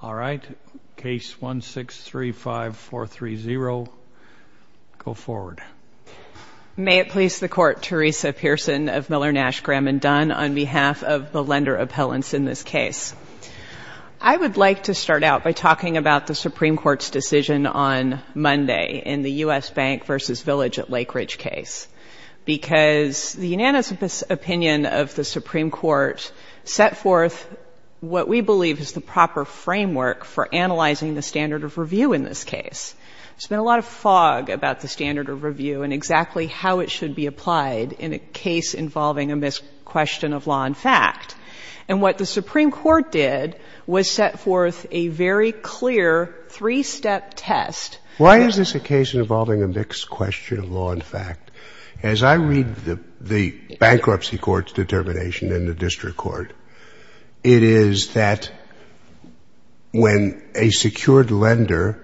May it please the Court, Teresa Pearson of Miller, Nash, Graham & Dunn, on behalf of the lender appellants in this case. I would like to start out by talking about the Supreme Court's decision on Monday in the U.S. Bank v. Village at Lake Ridge case. Because the unanimous opinion of the Supreme Court set forth what we believe is the proper framework for analyzing the standard of review in this case. There's been a lot of fog about the standard of review and exactly how it should be applied in a case involving a mixed question of law and fact. And what the Supreme Court did was set forth a very clear three-step test. Why is this a case involving a mixed question of law and fact? As I read the bankruptcy court's determination in the district court, it is that when a secured lender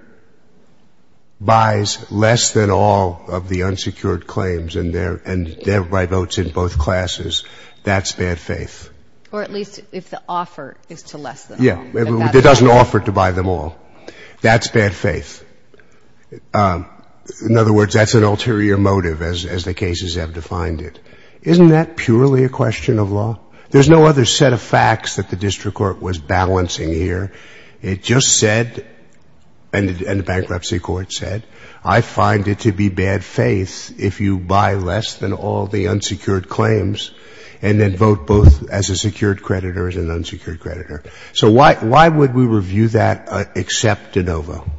buys less than all of the unsecured claims and thereby votes in both classes, that's bad faith. Or at least if the offer is to less than all. Yeah. It doesn't offer to buy them all. That's bad faith. In other words, that's an ulterior motive as the cases have defined it. Isn't that purely a question of law? There's no other set of facts that the district court was balancing here. It just said, and the bankruptcy court said, I find it to be bad faith if you buy less than all the unsecured claims and then vote both as a secured creditor and an unsecured creditor. So why would we review that except de novo?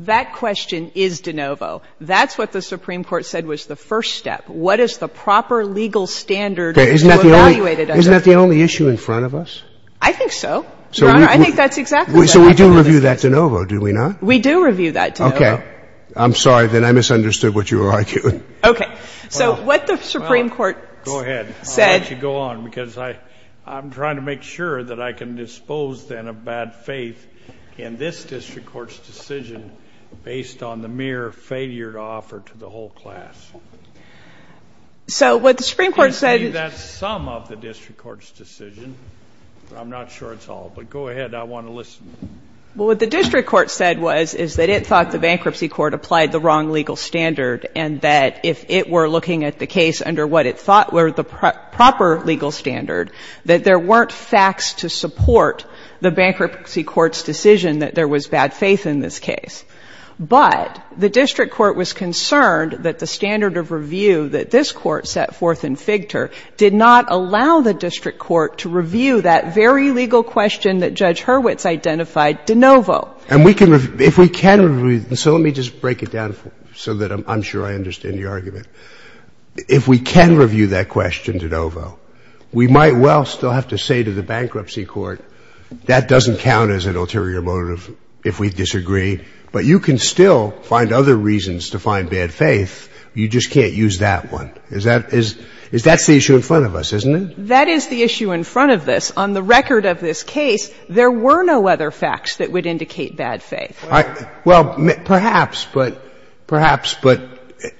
That question is de novo. That's what the Supreme Court said was the first step. What is the proper legal standard to evaluate it under? Isn't that the only issue in front of us? I think so. Your Honor, I think that's exactly what happened in this case. So we do review that de novo, do we not? We do review that de novo. Okay. I'm sorry, then I misunderstood what you were arguing. Okay. So what the Supreme Court said — Well, what the district court said was, is that it thought the bankruptcy court applied the wrong legal standard and that if it were looking at the case under what it thought were the proper legal standard, that there weren't facts to support the bankruptcy court's decision that there was bad faith in this case. But the district court was concerned that the standard of review that this Court set forth in Figter did not allow the district court to review that very legal question that Judge Hurwitz identified, de novo. And we can review — if we can review — and so let me just break it down so that I'm sure I understand your argument. If we can review that question, de novo, we might well still have to say to the bankruptcy court, that doesn't count as an ulterior motive if we disagree, but you can still find other reasons to find bad faith, you just can't use that one. Is that — is that the issue in front of us, isn't it? That is the issue in front of us. On the record of this case, there were no other facts that would indicate bad faith. Well, perhaps, but — perhaps, but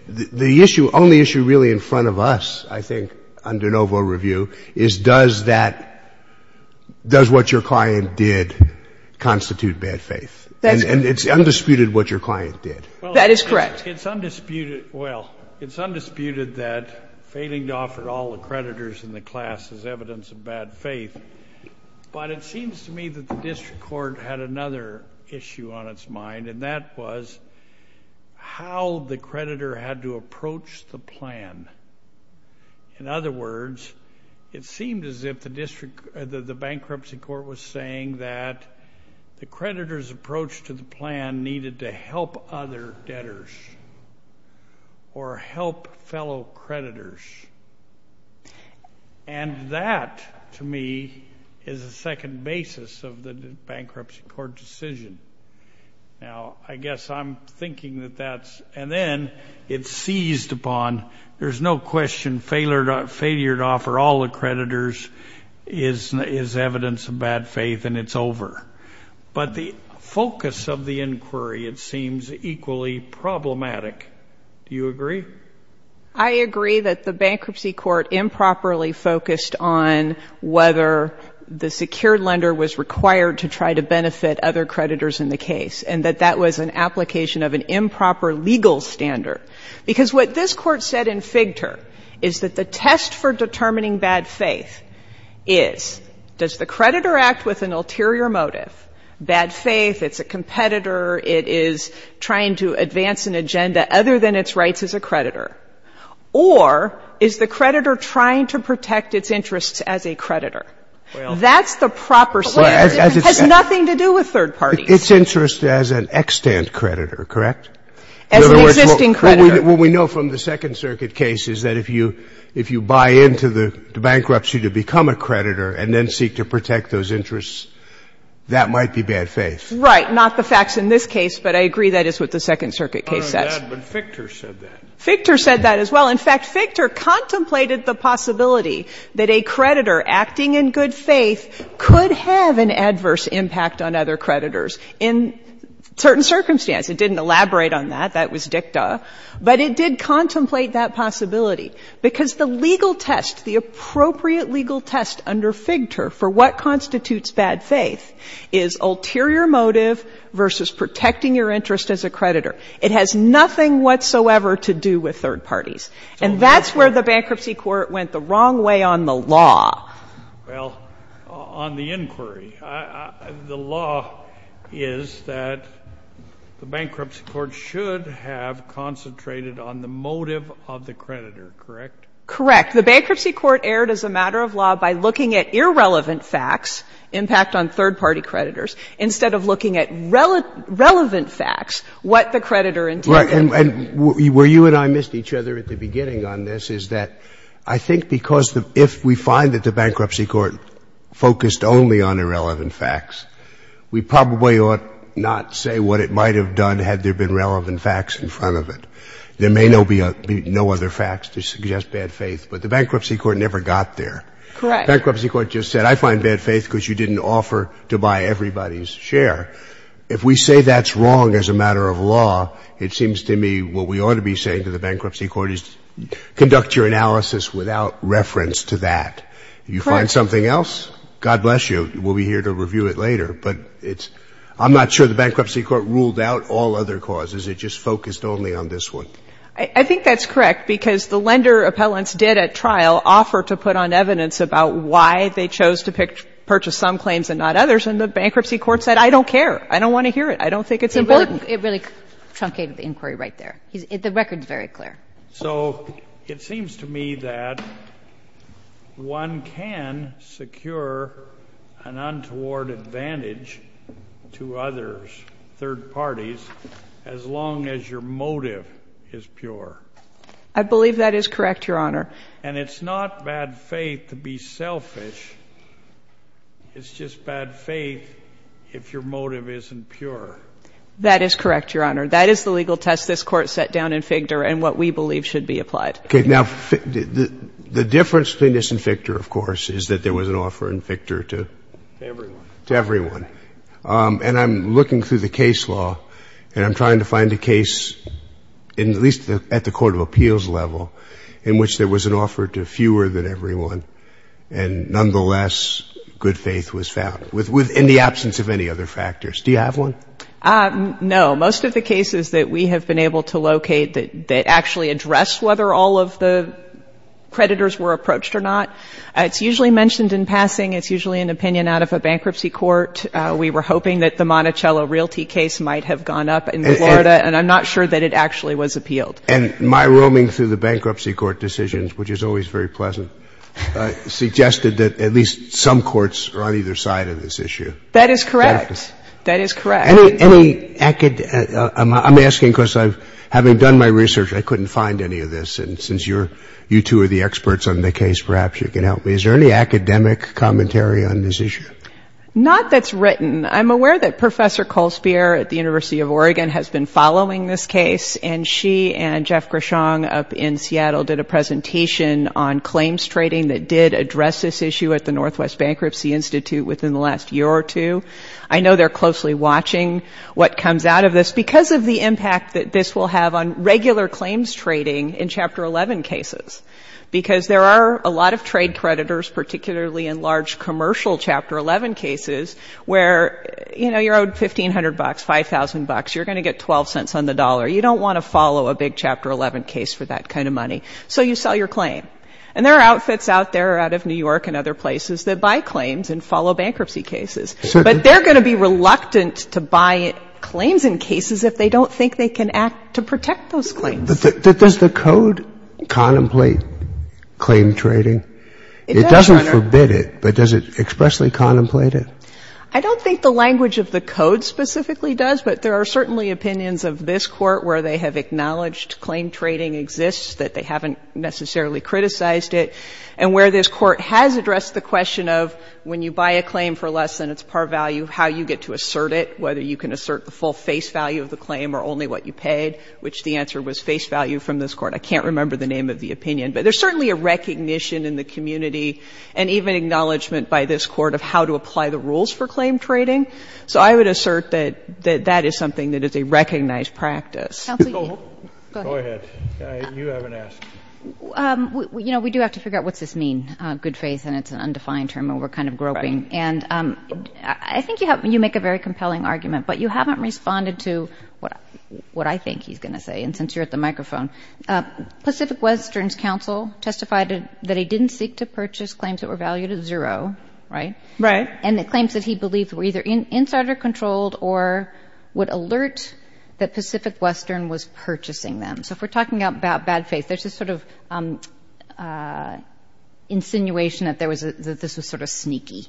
the issue, only issue really in front of us, I think, under de novo review, is does that — does what your client did constitute bad faith? And it's undisputed what your client did. That is correct. It's undisputed — well, it's undisputed that failing to offer all the creditors in the class is evidence of bad faith, but it seems to me that the district court had another issue on its mind, and that was how the creditor had to approach the plan. In other words, it seemed as if the district — the bankruptcy court was saying that the creditor's approach to the plan needed to help other debtors or help fellow creditors. And that, to me, is a second basis of the bankruptcy court decision. Now, I guess I'm thinking that that's — and then it's seized upon there's no question failure to offer all the creditors is evidence of bad faith, and it's over. But the focus of the inquiry, it seems, equally problematic. Do you agree? I agree that the bankruptcy court improperly focused on whether the secured lender was required to try to benefit other creditors in the case, and that that was an application of an improper legal standard. Because what this Court said in Figter is that the test for determining bad faith is does the creditor act with an ulterior motive — bad faith, it's a competitor, it is trying to advance an agenda other than its rights as a creditor — or is the creditor trying to protect its interests as a creditor? That's the proper standard. It has nothing to do with third parties. Its interest as an extant creditor, correct? As an existing creditor. In other words, what we know from the Second Circuit case is that if you — if you buy into the bankruptcy to become a creditor and then seek to protect those interests, that might be bad faith. Right. Not the facts in this case, but I agree that is what the Second Circuit case says. Not only that, but Figter said that. Figter said that as well. In fact, Figter contemplated the possibility that a creditor acting in good faith could have an adverse impact on other creditors in certain circumstances. It didn't elaborate on that. That was dicta. But it did contemplate that possibility, because the legal test, the appropriate legal test under Figter for what constitutes bad faith is ulterior motive versus protecting your interest as a creditor. It has nothing whatsoever to do with third parties. And that's where the bankruptcy court went the wrong way on the law. Well, on the inquiry, the law is that the bankruptcy court should have concentrated on the motive of the creditor, correct? Correct. In fact, the bankruptcy court erred as a matter of law by looking at irrelevant facts, impact on third-party creditors, instead of looking at relevant facts, what the creditor indeed did. And where you and I missed each other at the beginning on this is that I think because if we find that the bankruptcy court focused only on irrelevant facts, we probably ought not say what it might have done had there been relevant facts in front of it. There may be no other facts to suggest bad faith, but the bankruptcy court never got there. Correct. Bankruptcy court just said, I find bad faith because you didn't offer to buy everybody's share. If we say that's wrong as a matter of law, it seems to me what we ought to be saying to the bankruptcy court is conduct your analysis without reference to that. You find something else, God bless you, we'll be here to review it later. But I'm not sure the bankruptcy court ruled out all other causes. It just focused only on this one. I think that's correct, because the lender appellants did at trial offer to put on evidence about why they chose to purchase some claims and not others. And the bankruptcy court said, I don't care, I don't want to hear it, I don't think it's important. It really truncated the inquiry right there. The record's very clear. So it seems to me that one can secure an untoward advantage to others, third parties, as long as your motive is pure. I believe that is correct, Your Honor. And it's not bad faith to be selfish. It's just bad faith if your motive isn't pure. That is correct, Your Honor. That is the legal test this Court set down in Fichter and what we believe should be applied. Okay. Now, the difference between this and Fichter, of course, is that there was an offer in Fichter to? Everyone. To everyone. And I'm looking through the case law and I'm trying to find a case, at least at the court of appeals level, in which there was an offer to fewer than everyone and nonetheless, good faith was found, in the absence of any other factors. Do you have one? No. Most of the cases that we have been able to locate that actually address whether all of the creditors were approached or not, it's usually mentioned in passing. It's usually an opinion out of a bankruptcy court. We were hoping that the Monticello Realty case might have gone up in Florida and I'm not sure that it actually was appealed. And my roaming through the bankruptcy court decisions, which is always very pleasant, suggested that at least some courts are on either side of this issue. That is correct. That is correct. Any academic – I'm asking because I've – having done my research, I couldn't find any of this and since you two are the experts on the case, perhaps you can help me. Is there any academic commentary on this issue? Not that's written. I'm aware that Professor Colspierre at the University of Oregon has been following this case and she and Jeff Gershon up in Seattle did a presentation on claims trading that did address this issue at the Northwest Bankruptcy Institute within the last year or two. I know they're closely watching what comes out of this because of the impact that this will have on regular claims trading in Chapter 11 cases because there are a lot of trade creditors, particularly in large commercial Chapter 11 cases, where, you know, you're owed $1,500, $5,000, you're going to get 12 cents on the dollar. You don't want to follow a big Chapter 11 case for that kind of money. So you sell your claim. And there are outfits out there out of New York and other places that buy claims and follow bankruptcy cases, but they're going to be reluctant to buy claims in cases if they don't think they can act to protect those claims. But does the Code contemplate claim trading? It doesn't forbid it, but does it expressly contemplate it? I don't think the language of the Code specifically does, but there are certainly opinions of this Court where they have acknowledged claim trading exists, that they haven't necessarily criticized it, and where this Court has addressed the question of when you buy a claim for less than its par value, how you get to assert it, whether you can assert the full face value of the claim or only what you paid, which the full face value from this Court, I can't remember the name of the opinion, but there's certainly a recognition in the community and even acknowledgment by this Court of how to apply the rules for claim trading, so I would assert that that is something that is a recognized practice. Go ahead. You haven't asked. You know, we do have to figure out what's this mean, good faith, and it's an undefined term, and we're kind of groping. And I think you make a very compelling argument, but you haven't responded to what I think he's going to say. And since you're at the microphone, Pacific Western's counsel testified that he didn't seek to purchase claims that were valued at zero, right? Right. And the claims that he believed were either insider-controlled or would alert that Pacific Western was purchasing them. So if we're talking about bad faith, there's this sort of insinuation that this was sort of sneaky.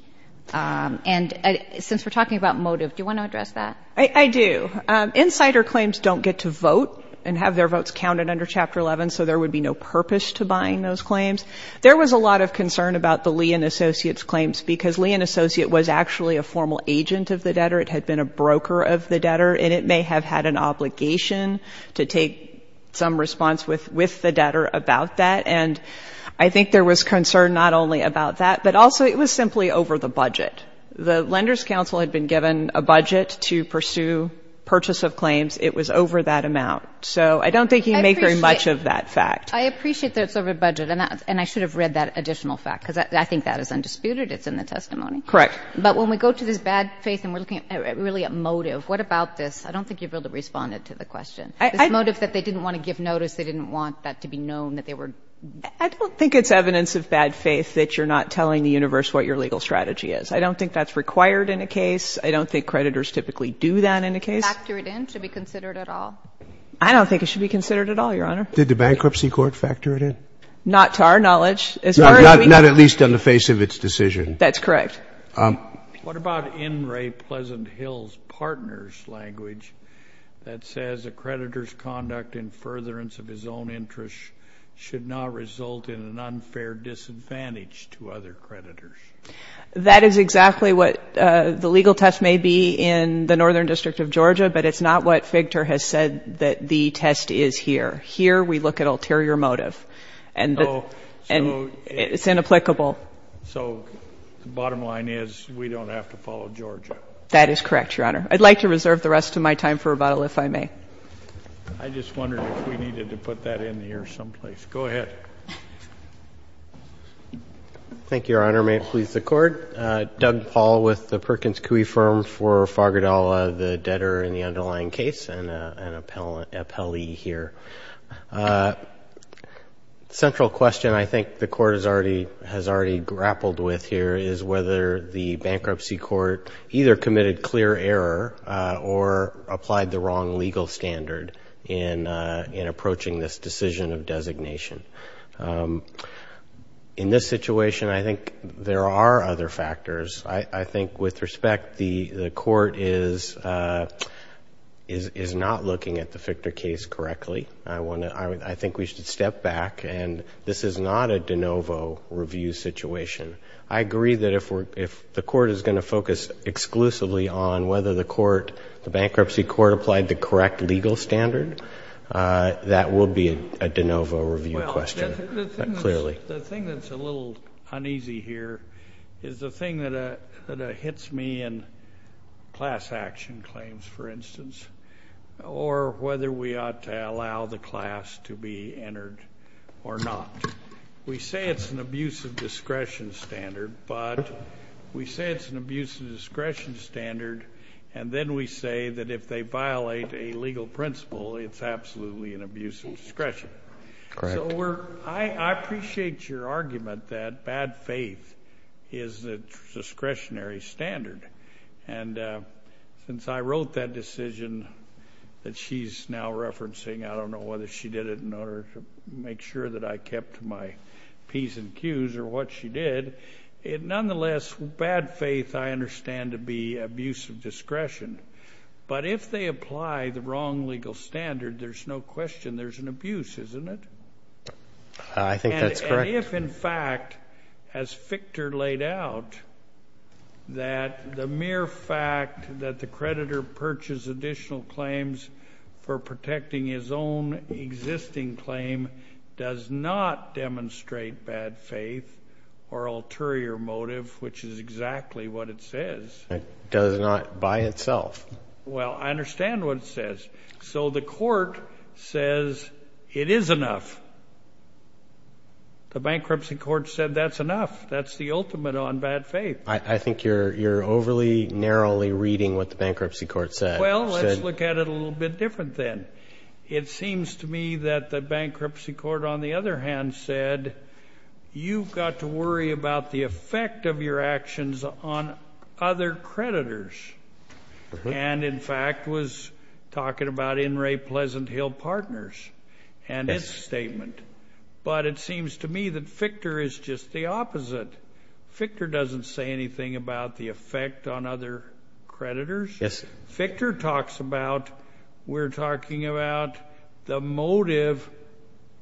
And since we're talking about motive, do you want to address that? I do. Insider claims don't get to vote and have their votes counted under Chapter 11, so there would be no purpose to buying those claims. There was a lot of concern about the Lee and Associates claims because Lee and Associate was actually a formal agent of the debtor. It had been a broker of the debtor, and it may have had an obligation to take some response with the debtor about that. And I think there was concern not only about that, but also it was simply over the budget. The lender's counsel had been given a budget to pursue purchase of claims. It was over that amount. So I don't think he made very much of that fact. I appreciate that it's over budget, and I should have read that additional fact, because I think that is undisputed. It's in the testimony. Correct. But when we go to this bad faith and we're looking at really a motive, what about this? I don't think you'd be able to respond to the question, this motive that they didn't want to give notice, they didn't want that to be known that they were... I don't think it's evidence of bad faith that you're not telling the universe what your legal strategy is. I don't think that's required in a case. I don't think creditors typically do that in a case. Factor it in? Should it be considered at all? I don't think it should be considered at all, Your Honor. Did the bankruptcy court factor it in? Not to our knowledge. As far as we... No, not at least on the face of its decision. That's correct. What about N. Ray Pleasant Hill's partner's language that says a creditor's conduct in furtherance of his own interest should not result in an unfair disadvantage to other creditors? That is exactly what the legal test may be in the Northern District of Georgia, but it's not what Figter has said that the test is here. Here we look at ulterior motive and it's inapplicable. So the bottom line is we don't have to follow Georgia? That is correct, Your Honor. I'd like to reserve the rest of my time for rebuttal if I may. I just wondered if we needed to put that in here someplace. Go ahead. Thank you, Your Honor. May it please the Court. Doug Paul with the Perkins Coie Firm for Fargadalla, the debtor in the underlying case and an appellee here. The central question I think the Court has already grappled with here is whether the bankruptcy court either committed clear error or applied the wrong legal standard in approaching this decision of designation. In this situation, I think there are other factors. I think with respect, the Court is not looking at the Figter case correctly. I think we should step back and this is not a de novo review situation. I agree that if the Court is going to focus exclusively on whether the bankruptcy court applied the correct legal standard, that would be a de novo review question, clearly. The thing that's a little uneasy here is the thing that hits me in class action claims, for instance, or whether we ought to allow the class to be entered or not. We say it's an abuse of discretion standard, but we say it's an abuse of discretion standard and then we say that if they violate a legal principle, it's absolutely an abuse of discretion. I appreciate your argument that bad faith is a discretionary standard. Since I wrote that decision that she's now referencing, I don't know whether she did it in order to make sure that I kept my P's and Q's or what she did, nonetheless, bad faith is discretion. But if they apply the wrong legal standard, there's no question there's an abuse, isn't it? I think that's correct. And if, in fact, as Ficter laid out, that the mere fact that the creditor purchased additional claims for protecting his own existing claim does not demonstrate bad faith or ulterior motive, which is exactly what it says. It does not by itself. Well, I understand what it says. So the court says it is enough. The bankruptcy court said that's enough. That's the ultimate on bad faith. I think you're overly narrowly reading what the bankruptcy court said. Well, let's look at it a little bit different then. It seems to me that the bankruptcy court, on the other hand, said you've got to worry about the effect of your actions on other creditors and, in fact, was talking about In re Pleasant Hill Partners and its statement. But it seems to me that Ficter is just the opposite. Ficter doesn't say anything about the effect on other creditors. Ficter talks about we're talking about the motive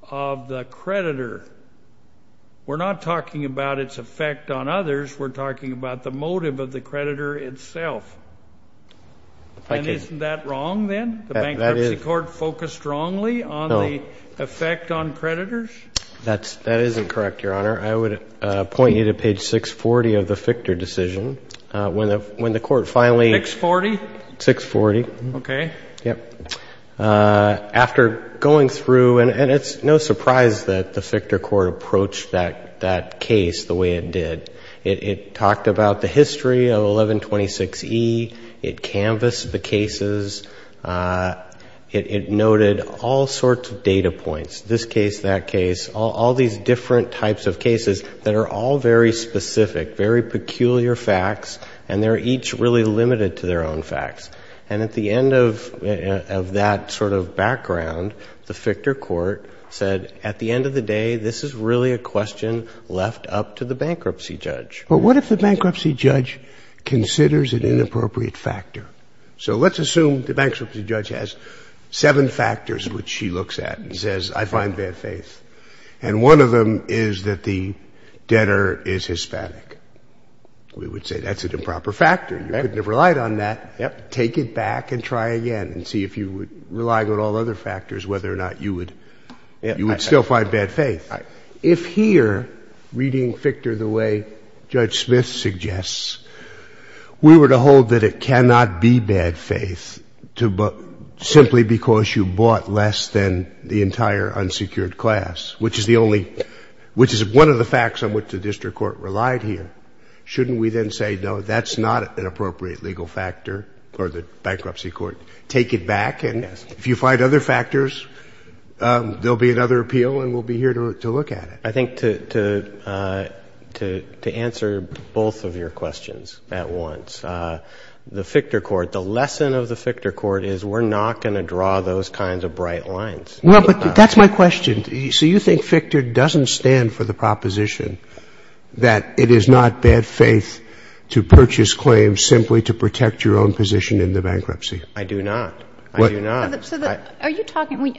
of the creditor. We're not talking about its effect on others. We're talking about the motive of the creditor itself. And isn't that wrong then? The bankruptcy court focused wrongly on the effect on creditors? That isn't correct, Your Honor. I would point you to page 640 of the Ficter decision. When the court finally 640, 640. Okay. Yep. After going through, and it's no surprise that the Ficter court approached that case the way it did. It talked about the history of 1126E. It canvassed the cases. It noted all sorts of data points, this case, that case, all these different types of cases that are all very specific, very peculiar facts. And they're each really limited to their own facts. And at the end of that sort of background, the Ficter court said, at the end of the day, this is really a question left up to the bankruptcy judge. But what if the bankruptcy judge considers an inappropriate factor? So let's assume the bankruptcy judge has seven factors which she looks at and says, I find bad faith. And one of them is that the debtor is Hispanic. We would say that's an improper factor. You couldn't have relied on that. Take it back and try again and see if you would rely on all other factors, whether or not you would still find bad faith. If here, reading Ficter the way Judge Smith suggests, we were to hold that it cannot be bad faith simply because you bought less than the entire unsecured class, which is the only, which is one of the facts on which the district court relied here. Shouldn't we then say, no, that's not an appropriate legal factor or the bankruptcy court? Take it back and if you find other factors, there'll be another appeal and we'll be here to look at it. I think to answer both of your questions at once, the Ficter court, the lesson of the Ficter court is we're not gonna draw those kinds of bright lines. No, but that's my question. So you think Ficter doesn't stand for the proposition that it is not bad faith to purchase claims simply to protect your own position in the bankruptcy? I do not. I do not. So are you talking,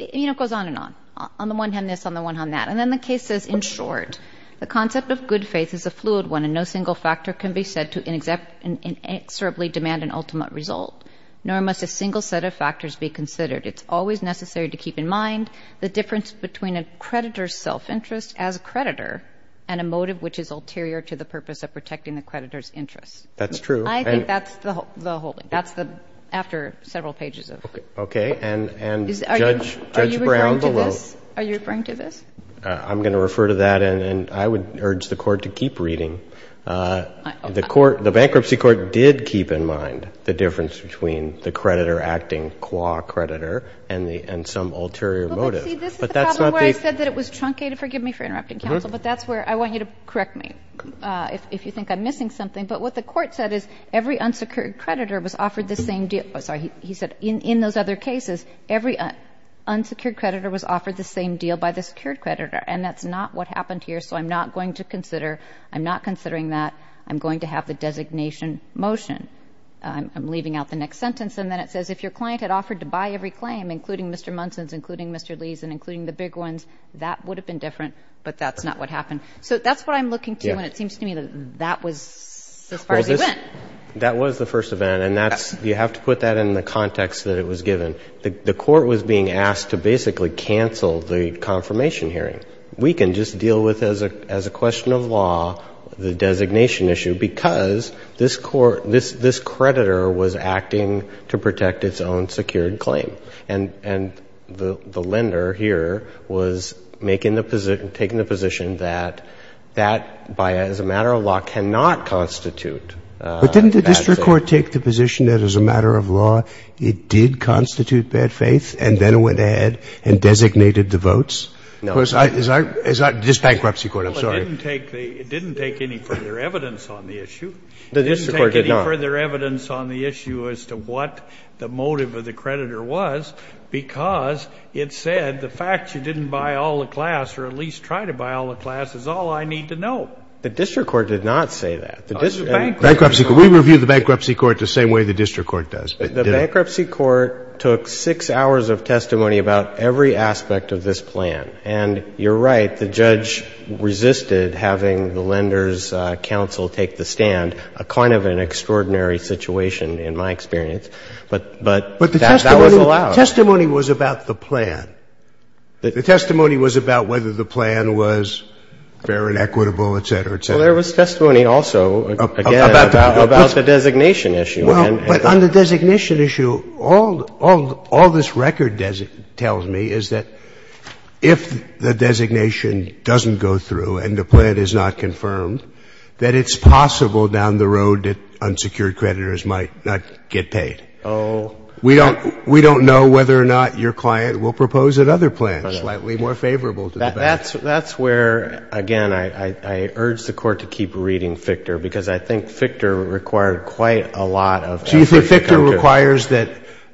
it goes on and on, on the one hand this, on the one hand that. And then the case says, in short, the concept of good faith is a fluid one and no single factor can be said to inexorably demand an ultimate result. Nor must a single set of factors be considered. It's always necessary to keep in mind the difference between a creditor's self interest as a creditor and a motive which is ulterior to the purpose of protecting the creditor's interest. That's true. I think that's the whole, that's the, after several pages of. Okay, and, and Judge, Judge Brown below. Are you referring to this? I'm going to refer to that and I would urge the court to keep reading. The court, the bankruptcy court did keep in mind the difference between the creditor acting qua creditor and the, and some ulterior motive. See, this is the problem where I said that it was truncated, forgive me for interrupting counsel, but that's where, I want you to correct me if, if you think I'm missing something. But what the court said is every unsecured creditor was offered the same deal. I'm sorry, he, he said in, in those other cases, every unsecured creditor was offered the same deal by the secured creditor. And that's not what happened here, so I'm not going to consider, I'm not considering that I'm going to have the designation motion. I'm, I'm leaving out the next sentence. And then it says, if your client had offered to buy every claim, including Mr. Munson's, including Mr. Lee's, and including the big ones, that would have been different, but that's not what happened. So that's what I'm looking to, and it seems to me that, that was as far as he went. That was the first event, and that's, you have to put that in the context that it was given. The, the court was being asked to basically cancel the confirmation hearing. We can just deal with as a, as a question of law, the designation issue, because this court, this, this creditor was acting to protect its own secured claim. And, and the, the lender here was making the position, taking the position that, that by, as a matter of law, cannot constitute. But didn't the district court take the position that as a matter of law, it did constitute bad faith, and then it went ahead and designated the votes? No. Because I, as I, as I, this bankruptcy court, I'm sorry. Well, it didn't take the, it didn't take any further evidence on the issue. The district court did not. No further evidence on the issue as to what the motive of the creditor was. Because it said, the fact you didn't buy all the class, or at least try to buy all the class, is all I need to know. The district court did not say that. The district court. Bankruptcy court. We reviewed the bankruptcy court the same way the district court does. The bankruptcy court took six hours of testimony about every aspect of this plan. And you're right, the judge resisted having the lender's counsel take the stand. And it was a, it was a, it was a, it was a, it was a, it was a, it was a, it was a kind of an extraordinary situation in my experience, but, but that was allowed. But the testimony, the testimony was about the plan. The testimony was about whether the plan was fair and equitable, et cetera, et cetera. Well, there was testimony also, again, about the designation issue. Well, but on the designation issue, all, all, all this record tells me is that if the designation doesn't go through and the plan is not confirmed, that it's possible down the road that unsecured creditors might not get paid. Oh. We don't, we don't know whether or not your client will propose another plan slightly more favorable to the bank. That's, that's where, again, I, I, I urge the Court to keep reading Fichter. Because I think Fichter required quite a lot of effort to come to. So you said Fichter requires that,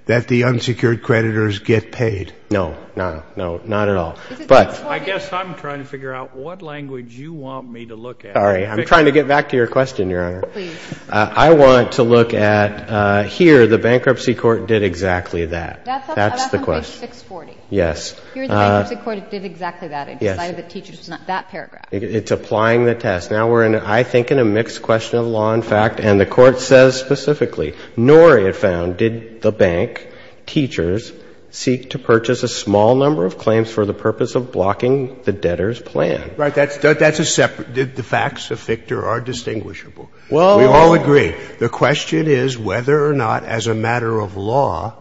that the unsecured creditors get paid? No, no, no, not at all. Is it 640? I guess I'm trying to figure out what language you want me to look at. Sorry, I'm trying to get back to your question, Your Honor. Please. I want to look at, here the bankruptcy court did exactly that. That's on page 640. That's the question. Yes. Here the bankruptcy court did exactly that. Yes. It decided that teachers, it's not that paragraph. It's applying the test. Now we're in, I think, in a mixed question of law and fact. And the Court says specifically, nor it found did the bank, teachers, seek to purchase a small number of claims for the purpose of blocking the debtor's plan. Right. That's, that's a separate. The facts of Fichter are distinguishable. Well. We all agree. The question is whether or not, as a matter of law,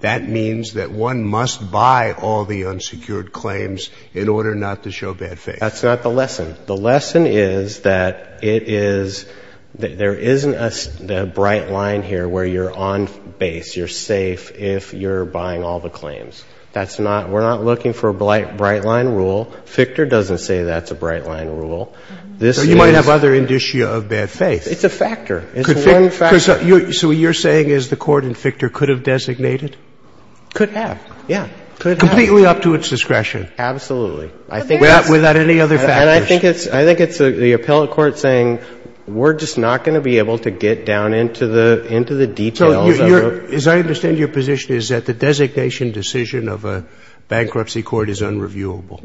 that means that one must buy all the unsecured claims in order not to show bad faith. That's not the lesson. The lesson is that it is, there isn't a bright line here where you're on base. You're safe if you're buying all the claims. That's not, we're not looking for a bright line rule. Fichter doesn't say that's a bright line rule. This is. So you might have other indicia of bad faith. It's a factor. It's one factor. So what you're saying is the Court in Fichter could have designated? Could have. Yeah. Could have. Completely up to its discretion. Absolutely. I think that's. And I think it's the appellate court saying we're just not going to be able to get down into the details. As I understand your position is that the designation decision of a bankruptcy court is unreviewable.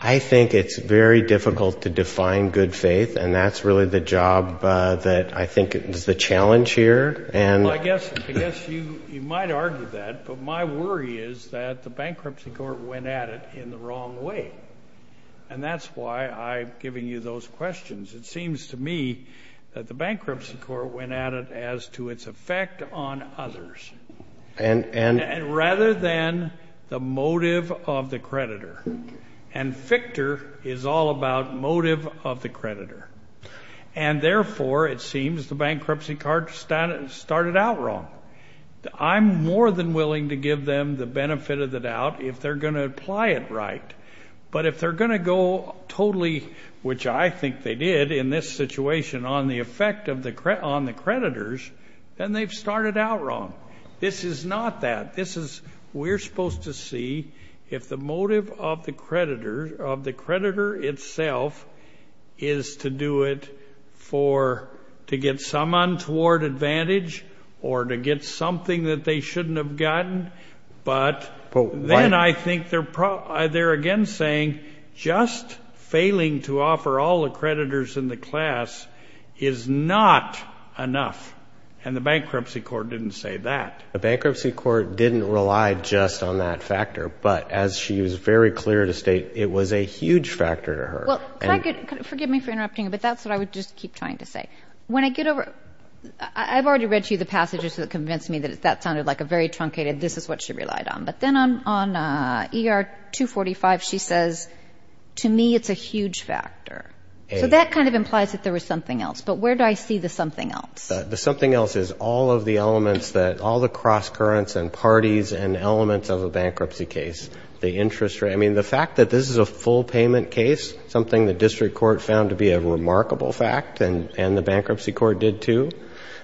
I think it's very difficult to define good faith. And that's really the job that I think is the challenge here. Well, I guess you might argue that. But my worry is that the bankruptcy court went at it in the wrong way. And that's why I'm giving you those questions. It seems to me that the bankruptcy court went at it as to its effect on others. And. And rather than the motive of the creditor. And Fichter is all about motive of the creditor. And therefore, it seems the bankruptcy court started out wrong. I'm more than willing to give them the benefit of the doubt if they're going to apply it right. But if they're going to go totally. Which I think they did in this situation on the effect on the creditors. Then they've started out wrong. This is not that. This is. We're supposed to see if the motive of the creditor. Of the creditor itself. Is to do it for. To get someone toward advantage. Or to get something that they shouldn't have gotten. But. Then I think they're again saying. Just failing to offer all the creditors in the class. Is not enough. And the bankruptcy court didn't say that. The bankruptcy court didn't rely just on that factor. But as she was very clear to state. It was a huge factor to her. Forgive me for interrupting. But that's what I would just keep trying to say. When I get over. I've already read you the passages. That convinced me that that sounded like a very truncated. This is what she relied on. But then on ER 245 she says. To me it's a huge factor. So that kind of implies that there was something else. But where do I see the something else? The something else is all of the elements. That all the cross currents and parties. And elements of a bankruptcy case. The interest rate. I mean the fact that this is a full payment case. Something the district court found to be a remarkable fact. And the bankruptcy court did too.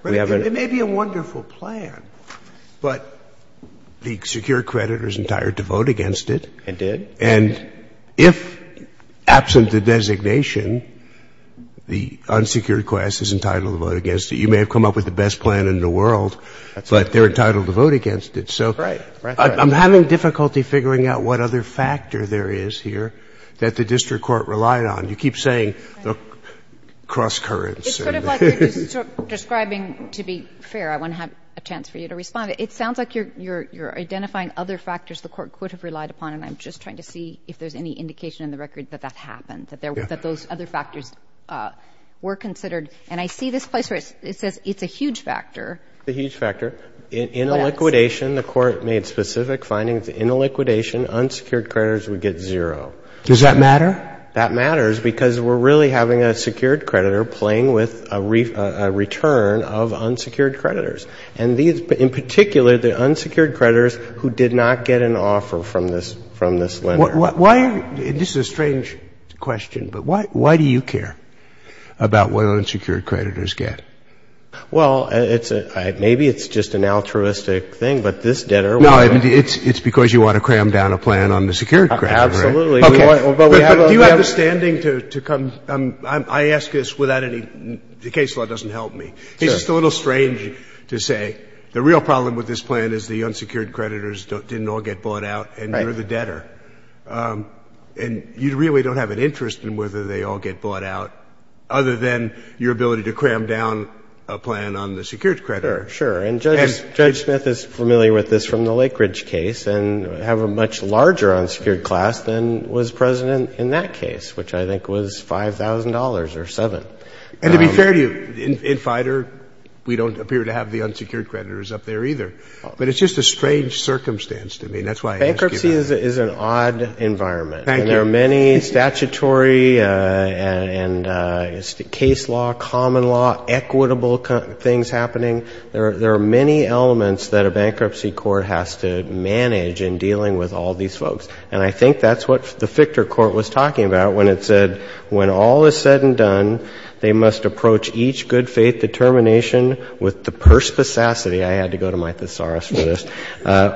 It may be a wonderful plan. But the secured creditor is entitled to vote against it. It did. And if absent the designation. The unsecured class is entitled to vote against it. You may have come up with the best plan in the world. But they're entitled to vote against it. Right. I'm having difficulty figuring out what other factor there is here. That the district court relied on. You keep saying the cross currents. It's sort of like you're describing. To be fair. I want to have a chance for you to respond. It sounds like you're identifying other factors the court could have relied upon. And I'm just trying to see if there's any indication in the record that that happened. That those other factors were considered. And I see this place where it says it's a huge factor. It's a huge factor. In a liquidation the court made specific findings. In a liquidation unsecured creditors would get zero. Does that matter? That matters. Because we're really having a secured creditor playing with a return of unsecured creditors. And in particular the unsecured creditors who did not get an offer from this lender. This is a strange question. But why do you care about what unsecured creditors get? Well, maybe it's just an altruistic thing. But this debtor. It's because you want to cram down a plan on the secured creditors. Absolutely. Do you have the standing to come. I ask this without any. The case law doesn't help me. It's just a little strange to say. The real problem with this plan is the unsecured creditors didn't all get bought out. And you're the debtor. And you really don't have an interest in whether they all get bought out. Other than your ability to cram down a plan on the secured creditor. Sure. And Judge Smith is familiar with this from the Lake Ridge case. And have a much larger unsecured class than was present in that case. Which I think was $5,000 or $7,000. And to be fair to you, in FIDR we don't appear to have the unsecured creditors up there either. But it's just a strange circumstance to me. Bankruptcy is an odd environment. Thank you. And there are many statutory and case law, common law, equitable things happening. There are many elements that a bankruptcy court has to manage in dealing with all these folks. And I think that's what the FIDR court was talking about when it said, when all is said and done, they must approach each good faith determination with the perspicacity, I had to go to my thesaurus for this,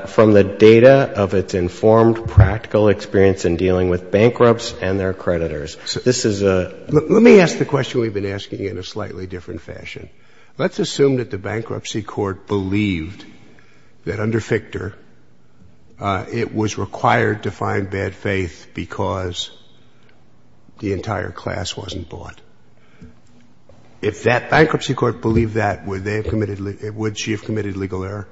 from the data of its informed practical experience in dealing with bankrupts and their creditors. This is a Let me ask the question we've been asking in a slightly different fashion. Let's assume that the bankruptcy court believed that under FIDR it was required to find bad faith because the entire class wasn't bought. If that bankruptcy court believed that, would they have committed, would she have committed legal error?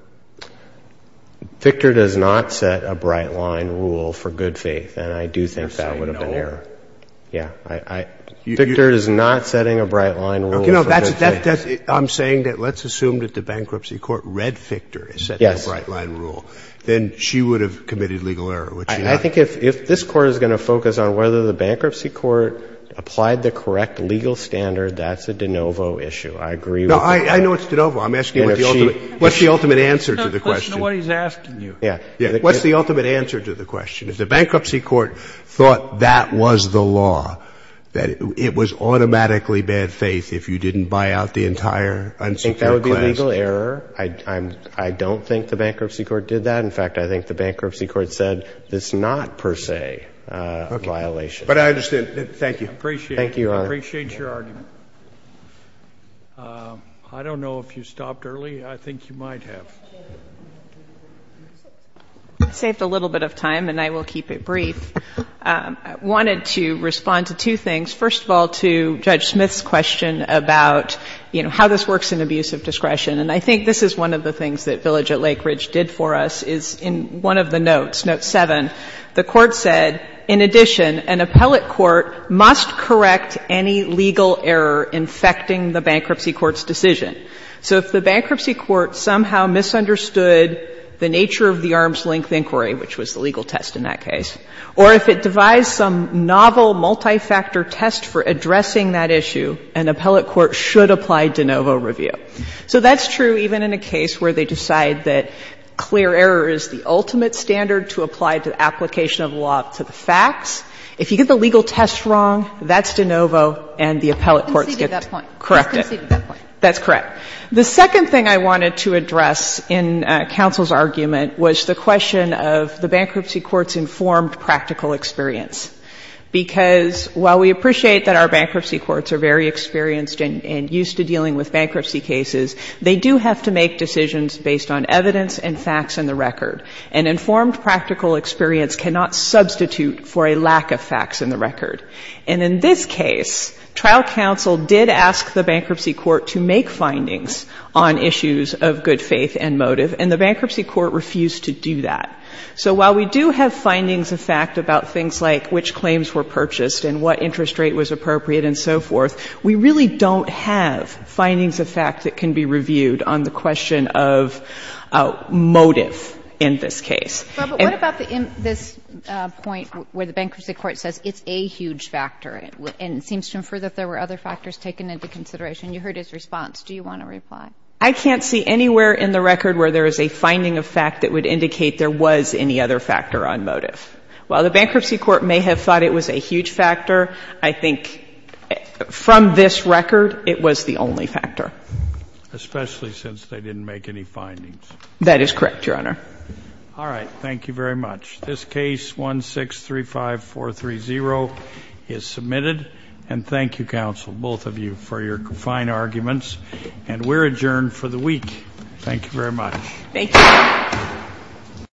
FIDR does not set a bright line rule for good faith. And I do think that would have been error. Yeah. I'm saying that let's assume that the bankruptcy court read FIDR and set that bright line rule. Yes. Then she would have committed legal error. I think if this Court is going to focus on whether the bankruptcy court applied the correct legal standard, that's a de novo issue. I agree with that. No, I know it's de novo. I'm asking what's the ultimate answer to the question. Listen to what he's asking you. Yeah. What's the ultimate answer to the question? If the bankruptcy court thought that was the law, that it was automatically bad faith if you didn't buy out the entire unsecured class? I think that would be legal error. I don't think the bankruptcy court did that. In fact, I think the bankruptcy court said it's not per se a violation. Okay. But I understand. Thank you. I appreciate it. Thank you, Your Honor. I appreciate your argument. I don't know if you stopped early. I think you might have. I saved a little bit of time and I will keep it brief. I wanted to respond to two things. First of all, to Judge Smith's question about, you know, how this works in abuse of discretion. And I think this is one of the things that Village at Lake Ridge did for us is in one of the notes, note 7, the court said, in addition, an appellate court must correct any legal error infecting the bankruptcy court's decision. So if the bankruptcy court somehow misunderstood the nature of the arm's-length inquiry, which was the legal test in that case, or if it devised some novel multifactor test for addressing that issue, an appellate court should apply de novo review. So that's true even in a case where they decide that clear error is the ultimate standard to apply to application of law to the facts. If you get the legal test wrong, that's de novo and the appellate courts get to correct it. That's correct. The second thing I wanted to address in counsel's argument was the question of the bankruptcy court's informed practical experience. Because while we appreciate that our bankruptcy courts are very experienced and used to dealing with bankruptcy cases, they do have to make decisions based on evidence and facts in the record. And informed practical experience cannot substitute for a lack of facts in the record. And in this case, trial counsel did ask the bankruptcy court to make findings on issues of good faith and motive, and the bankruptcy court refused to do that. So while we do have findings of fact about things like which claims were purchased and what interest rate was appropriate and so forth, we really don't have findings of fact that can be reviewed on the question of motive in this case. But what about this point where the bankruptcy court says it's a huge factor, and it seems to infer that there were other factors taken into consideration? You heard his response. Do you want to reply? I can't see anywhere in the record where there is a finding of fact that would indicate there was any other factor on motive. While the bankruptcy court may have thought it was a huge factor, I think from this record, it was the only factor. Especially since they didn't make any findings. That is correct, Your Honor. All right. Thank you very much. This case 1635430 is submitted. And thank you, counsel, both of you, for your fine arguments. And we're adjourned for the week. Thank you very much. Thank you.